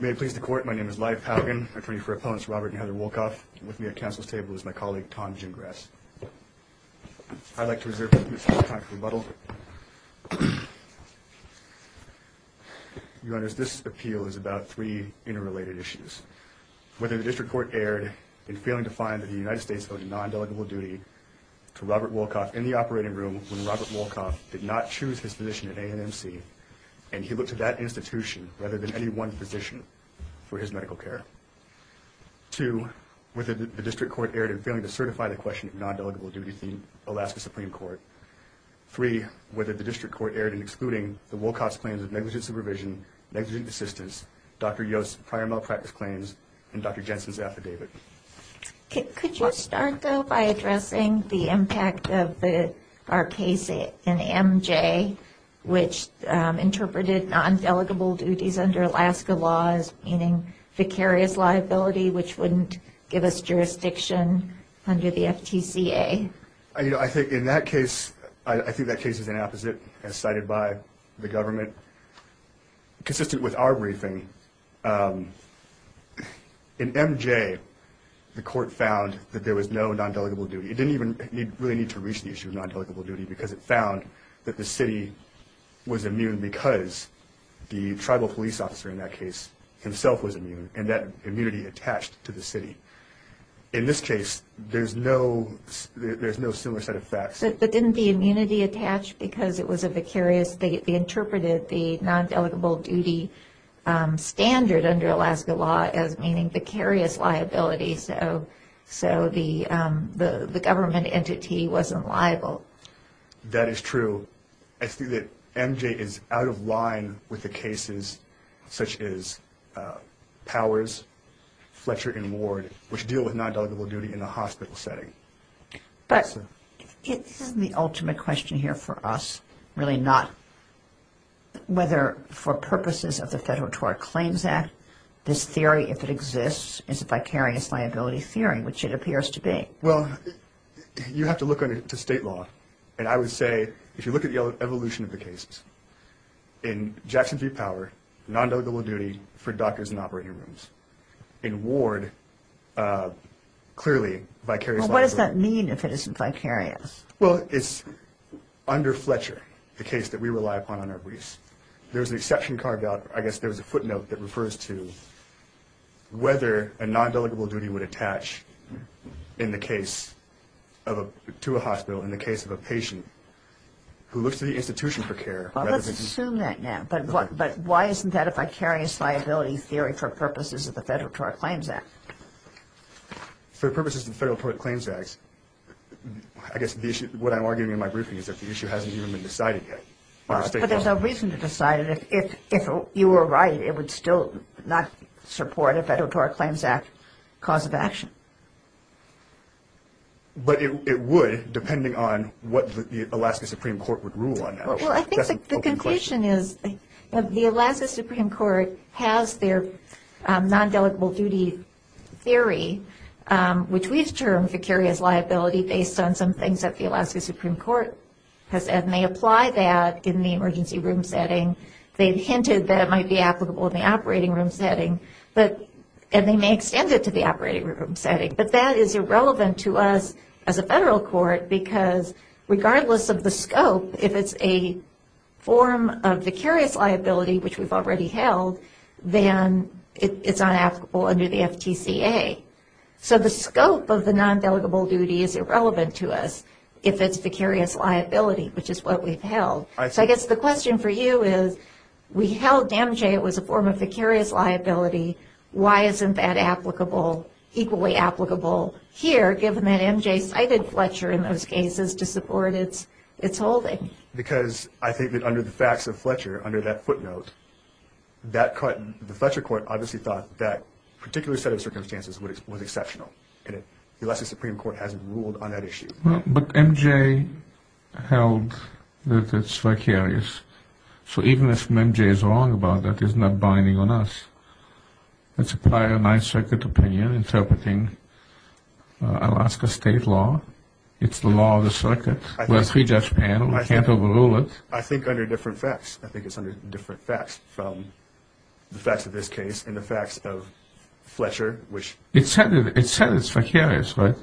May it please the Court, my name is Lyle Powgan, attorney for opponents Robert and Heather Wolcoff. With me at Council's table is my colleague, Tom Gingras. I'd like to reserve a few minutes more time for rebuttal. Your Honors, this appeal is about three interrelated issues. Whether the District Court erred in failing to find that the United States owed a non-delegable duty to Robert Wolcoff in the operating room when Robert Wolcoff did not choose his position in A&MC and he looked to that institution rather than any one position for his medical care. Two, whether the District Court erred in failing to certify the question of non-delegable duty to the Alaska Supreme Court. Three, whether the District Court erred in excluding the Wolcoff's claims of negligent supervision, negligent assistance, Dr. Yo's prior malpractice claims, and Dr. Jensen's affidavit. Could you start, though, by addressing the impact of our case in MJ, which interpreted non-delegable duties under Alaska laws, meaning vicarious liability, which wouldn't give us jurisdiction under the FTCA? I think in that case, I think that case is an opposite, as cited by the government. Consistent with our briefing, in MJ, the court found that there was no non-delegable duty. It didn't even really need to reach the issue of non-delegable duty because it found that the city was immune because the tribal police officer in that case himself was immune and that immunity attached to the city. In this case, there's no similar set of facts. But didn't the immunity attach because it was a vicarious, they interpreted the non-delegable duty standard under Alaska law as meaning vicarious liability, so the government entity wasn't liable? That is true. I see that MJ is out of line with the cases such as Powers, Fletcher, and Ward, which deal with non-delegable duty in a hospital setting. But this isn't the ultimate question here for us, really not whether for purposes of the Federal Tort Claims Act, this theory, if it exists, is a vicarious liability theory, which it appears to be. Well, you have to look to state law, and I would say, if you look at the evolution of the cases, in Jackson v. Power, non-delegable duty for doctors in operating rooms. In Ward, clearly, vicarious liability. What does that mean if it isn't vicarious? Well, it's under Fletcher, the case that we rely upon on our briefs. There's an exception carved out, I guess there's a footnote that refers to whether a non-delegable duty would attach to a hospital in the case of a patient who looks to the institution for care. Well, let's assume that now. But why isn't that a vicarious liability theory for purposes of the Federal Tort Claims Act? For purposes of the Federal Tort Claims Act, I guess what I'm arguing in my briefing is that the issue hasn't even been decided yet. But there's no reason to decide it. If you were right, it would still not support a Federal Tort Claims Act cause of action. But it would, depending on what the Alaska Supreme Court would rule on that. Well, I think the conclusion is that the Alaska Supreme Court has their non-delegable duty theory, which we've termed vicarious liability, based on some things that the Alaska Supreme Court has said, and they apply that in the emergency room setting. They've hinted that it might be applicable in the operating room setting, and they may extend it to the operating room setting. But that is irrelevant to us as a Federal Court, because regardless of the scope, if it's a form of vicarious liability, which we've already held, then it's unapplicable under the FTCA. So the scope of the non-delegable duty is irrelevant to us if it's vicarious liability, which is what we've held. So I guess the question for you is, we held MJ was a form of vicarious liability. Why isn't that applicable, equally applicable here, given that MJ cited Fletcher in those Because I think that under the facts of Fletcher, under that footnote, the Fletcher Court obviously thought that particular set of circumstances was exceptional, and the Alaska Supreme Court hasn't ruled on that issue. But MJ held that it's vicarious, so even if MJ is wrong about that, it's not binding on us. It's a prior Ninth Circuit opinion interpreting Alaska State law. It's the law of the circuit. We're a three-judge panel. We can't overrule it. I think under different facts. I think it's under different facts from the facts of this case and the facts of Fletcher, which It said it's vicarious, right?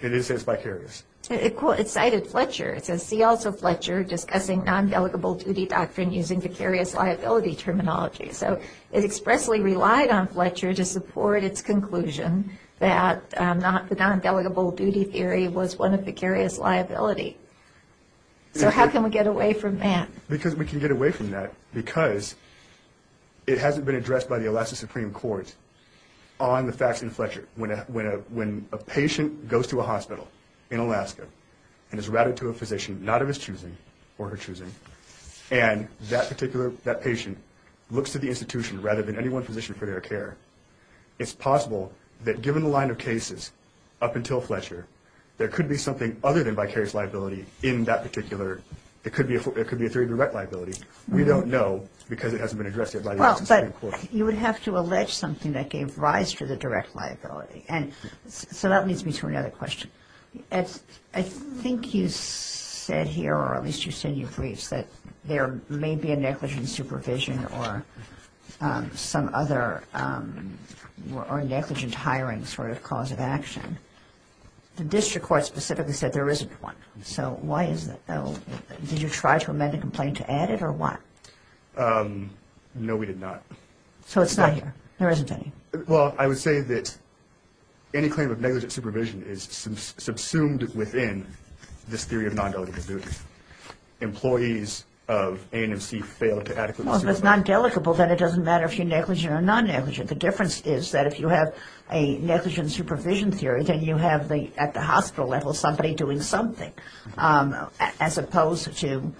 It did say it's vicarious. It cited Fletcher. It says, see also Fletcher discussing non-delegable duty doctrine using vicarious liability terminology. So it expressly relied on Fletcher to support its conclusion that the non-delegable duty theory was one of vicarious liability. So how can we get away from that? Because we can get away from that because it hasn't been addressed by the Alaska Supreme Court on the facts in Fletcher. When a patient goes to a hospital in Alaska and is routed to a physician, not of his choosing or her choosing, and that patient looks to the institution rather than any one physician for their care, it's possible that given the line of cases up until Fletcher, there could be something other than vicarious liability in that particular, it could be a three-direct liability. We don't know because it hasn't been addressed yet by the Alaska Supreme Court. You would have to allege something that gave rise to the direct liability. So that leads me to another question. I think you said here, or at least you said in your briefs, that there may be a negligent supervision or some other negligent hiring sort of cause of action. The district court specifically said there isn't one. So why is that? Did you try to amend the complaint to add it or what? No, we did not. So it's not here. There isn't any. Well, I would say that any claim of negligent supervision is subsumed within this theory of non-delegable duty. Employees of ANMC fail to adequately supervise. Well, if it's non-delegable, then it doesn't matter if you're negligent or non-negligent. The difference is that if you have a negligent supervision theory, then you have at the hospital level somebody doing something, as opposed to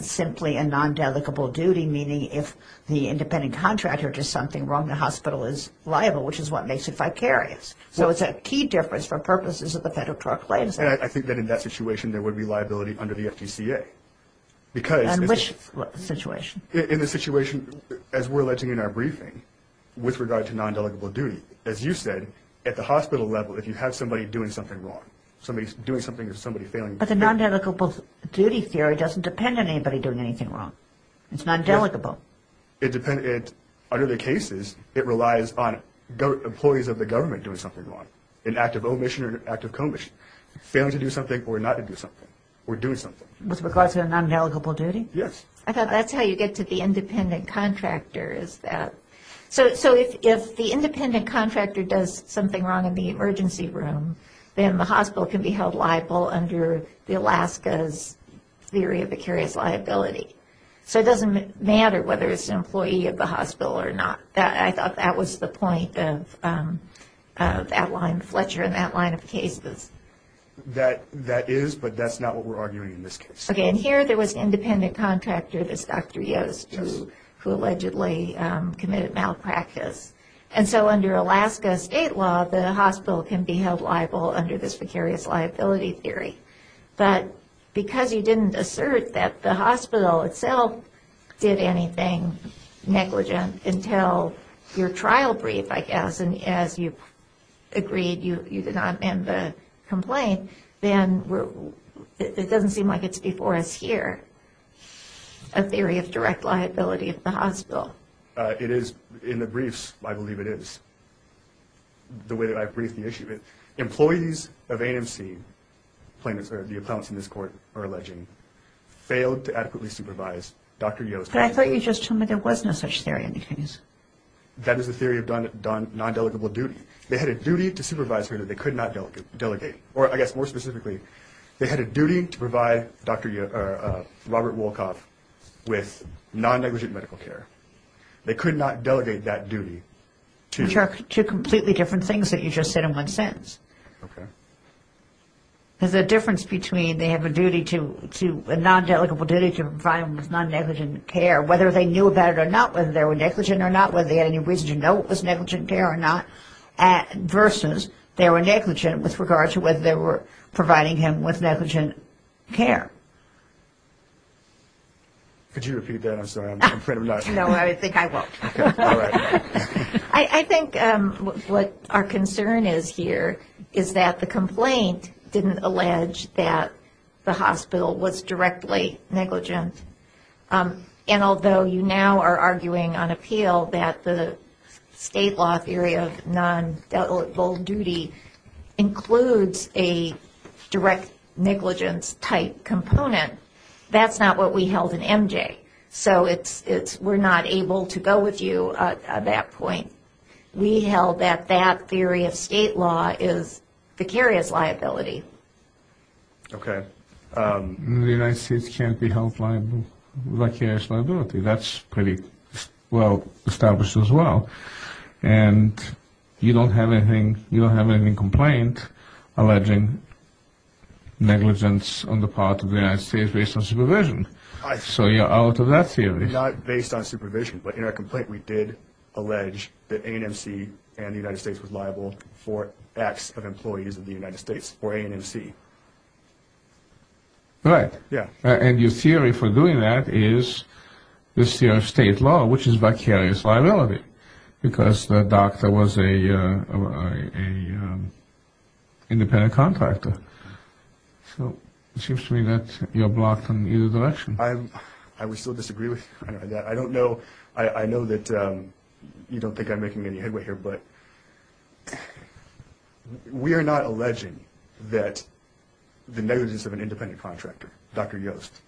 simply a non-delegable duty, meaning if the independent contractor does something wrong, the hospital is liable, which is what makes it vicarious. So it's a key difference for purposes of the Federal Court of Claims Act. And I think that in that situation, there would be liability under the FDCA. Because... In which situation? In the situation, as we're alleging in our briefing, with regard to non-delegable duty. As you said, at the hospital level, if you have somebody doing something wrong, somebody doing something or somebody failing... But the non-delegable duty theory doesn't depend on anybody doing anything wrong. It's non-delegable. It depends... Under the cases, it relies on employees of the government doing something wrong, an act of failure to do something or not to do something, or doing something. With regard to a non-delegable duty? Yes. I thought that's how you get to the independent contractor, is that... So if the independent contractor does something wrong in the emergency room, then the hospital can be held liable under the Alaska's theory of vicarious liability. So it doesn't matter whether it's an employee of the hospital or not. I thought that was the point of that line of Fletcher and that line of cases. That is, but that's not what we're arguing in this case. Okay. And here, there was an independent contractor, this Dr. Yost... Yes. ...who allegedly committed malpractice. And so under Alaska state law, the hospital can be held liable under this vicarious liability theory. But because you didn't assert that the hospital itself did anything negligent until your trial brief, I guess, and as you agreed, you did not end the complaint, then it doesn't seem like it's before us here, a theory of direct liability of the hospital. It is in the briefs, I believe it is, the way that I briefed the issue. Employees of ANC, plaintiffs or the appellants in this court are alleging, failed to adequately supervise Dr. Yost... But I thought you just told me there was no such theory in the case. That is the theory of non-delegable duty. They had a duty to supervise her that they could not delegate. Or I guess more specifically, they had a duty to provide Robert Wolkoff with non-negligent medical care. They could not delegate that duty to... Which are two completely different things that you just said in one sentence. Okay. There's a difference between they have a duty to, a non-delegable duty to provide him with non-negligent care. Whether they knew about it or not, whether they were negligent or not, whether they had any reason to know it was negligent care or not, versus they were negligent with regard to whether they were providing him with negligent care. Could you repeat that? I'm sorry. I'm afraid I'm not... No, I think I won't. Okay. All right. I think what our concern is here is that the complaint didn't allege that the hospital was directly negligent. And although you now are arguing on appeal that the state law theory of non-delegable duty includes a direct negligence type component, that's not what we held in MJ. So we're not able to go with you on that point. We held that that theory of state law is vicarious liability. Okay. We held that the United States can't be held liable, vicarious liability. That's pretty well established as well. And you don't have anything, you don't have any complaint alleging negligence on the part of the United States based on supervision. So you're out of that theory. Not based on supervision, but in our complaint we did allege that A&MC and the United States was liable for acts of employees of the United States for A&MC. Right. Yeah. And your theory for doing that is this theory of state law, which is vicarious liability because the doctor was an independent contractor. So it seems to me that you're blocked in either direction. I would still disagree with you on that. I don't know. I know that you don't think I'm making any headway here. But we are not alleging that the negligence of an independent contractor, Dr. Yost,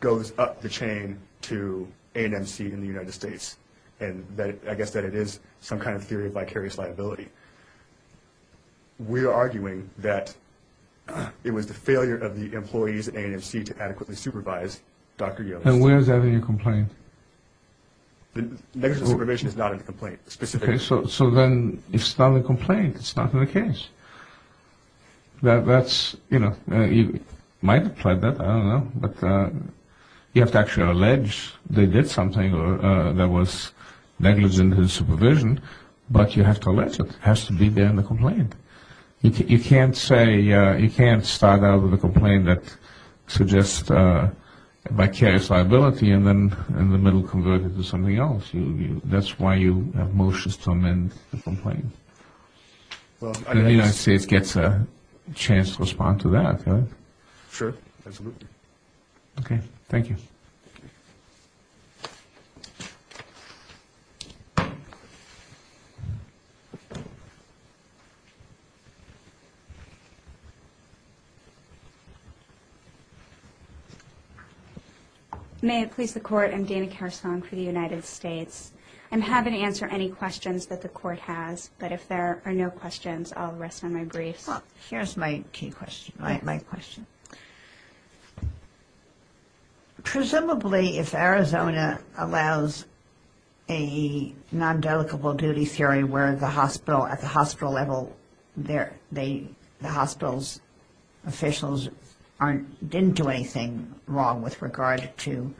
goes up the chain to A&MC and the United States. And I guess that it is some kind of theory of vicarious liability. We are arguing that it was the failure of the employees at A&MC to adequately supervise Dr. Yost. And where is that in your complaint? Negligent supervision is not in the complaint specifically. Okay. So then it's not in the complaint. It's not in the case. That's, you know, you might apply that. I don't know. But you have to actually allege they did something that was negligent in supervision, but you have to allege it. It has to be there in the complaint. You can't say you can't start out with a complaint that suggests vicarious liability and then in the middle convert it to something else. That's why you have motions to amend the complaint. The United States gets a chance to respond to that, right? Sure. Absolutely. Okay. Thank you. May it please the Court. I'm Dana Karasong for the United States. I'm happy to answer any questions that the Court has, but if there are no questions, I'll rest on my briefs. Well, here's my key question, my question. Presumably if Arizona allows a non-dedicable duty theory where the hospital, at the hospital level, the hospital's officials didn't do anything wrong with regard to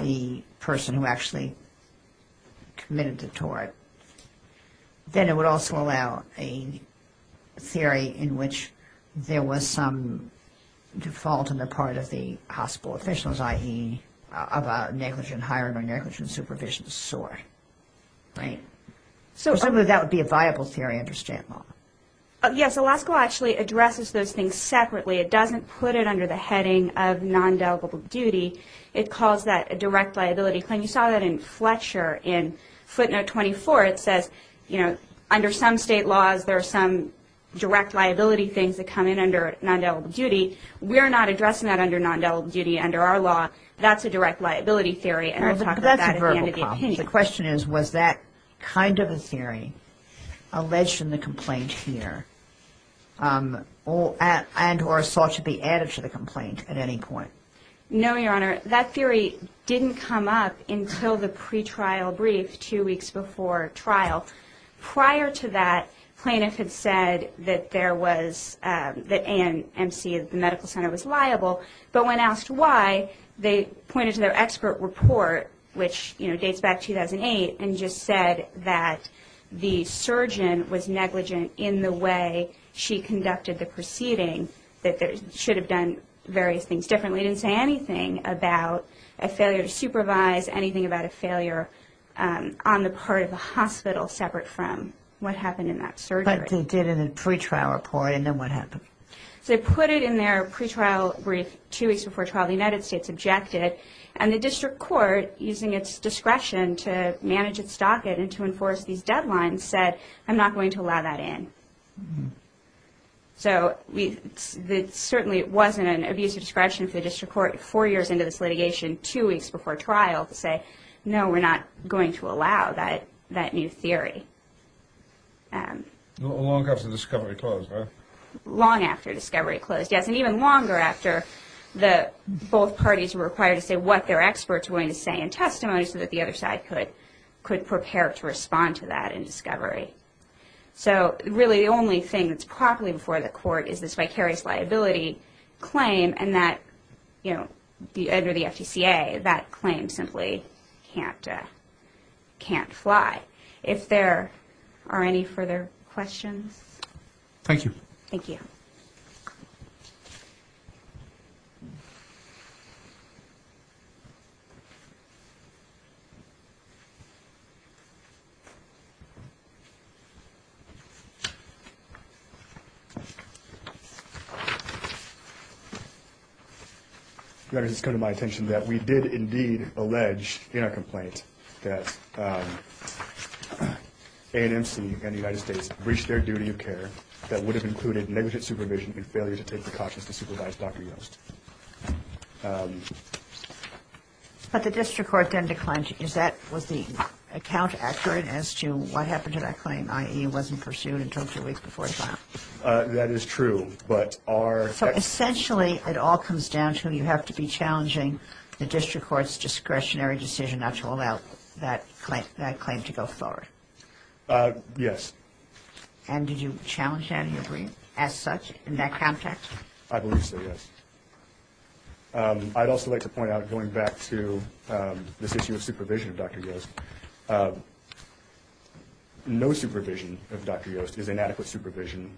the person who actually committed the tort, then it would also allow a theory in which there was some default on the part of the hospital officials, i.e. of a negligent hiring or negligent supervision to soar, right? Presumably that would be a viable theory under STAT law. Yes. Alaska actually addresses those things separately. It doesn't put it under the heading of non-dedicable duty. It calls that a direct liability claim. And you saw that in Fletcher in footnote 24. It says, you know, under some state laws there are some direct liability things that come in under non-dedicable duty. We're not addressing that under non-dedicable duty under our law. That's a direct liability theory, and I talked about that at the end of the opinion. The question is, was that kind of a theory alleged in the complaint here and or sought to be added to the complaint at any point? No, Your Honor. That theory didn't come up until the pretrial brief two weeks before trial. Prior to that, plaintiffs had said that there was the ANC, the medical center, was liable. But when asked why, they pointed to their expert report, which, you know, dates back to 2008, and just said that the surgeon was negligent in the way she conducted the proceeding, that they should have done various things differently. And they didn't say anything about a failure to supervise, anything about a failure on the part of the hospital separate from what happened in that surgery. But they did in the pretrial report, and then what happened? So they put it in their pretrial brief two weeks before trial. The United States objected. And the district court, using its discretion to manage its docket and to enforce these deadlines, said, I'm not going to allow that in. So it certainly wasn't an abuse of discretion for the district court four years into this litigation, two weeks before trial, to say, no, we're not going to allow that new theory. Long after discovery closed, right? Long after discovery closed, yes, and even longer after both parties were required to say what their experts were going to say in testimony so that the other side could prepare to respond to that in discovery. So really the only thing that's properly before the court is this vicarious liability claim, and that under the FTCA, that claim simply can't fly. If there are any further questions. Thank you. Thank you. Your Honor, it's come to my attention that we did indeed allege in our complaint that A&MC and the United States breached their duty of care that would have included negligent supervision and failure to take precautions to supervise Dr. Yost. But the district court then declined. Was the account accurate as to what happened to that claim? I.e., it wasn't pursued until two weeks before trial. That is true. So essentially it all comes down to you have to be challenging the district court's discretionary decision not to allow that claim to go forward. Yes. And did you challenge that in your brief as such in that context? I believe so, yes. I'd also like to point out, going back to this issue of supervision of Dr. Yost, no supervision of Dr. Yost is inadequate supervision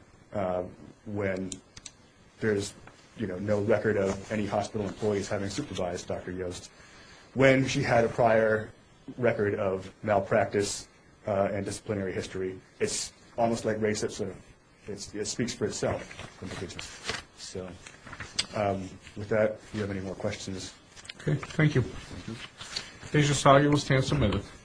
when there's no record of any hospital employees having supervised Dr. Yost. When she had a prior record of malpractice and disciplinary history, it's almost like race. It speaks for itself. So with that, do you have any more questions? Okay. Thank you. Thank you. Thank you, Judge Asagi. We'll stand submitted.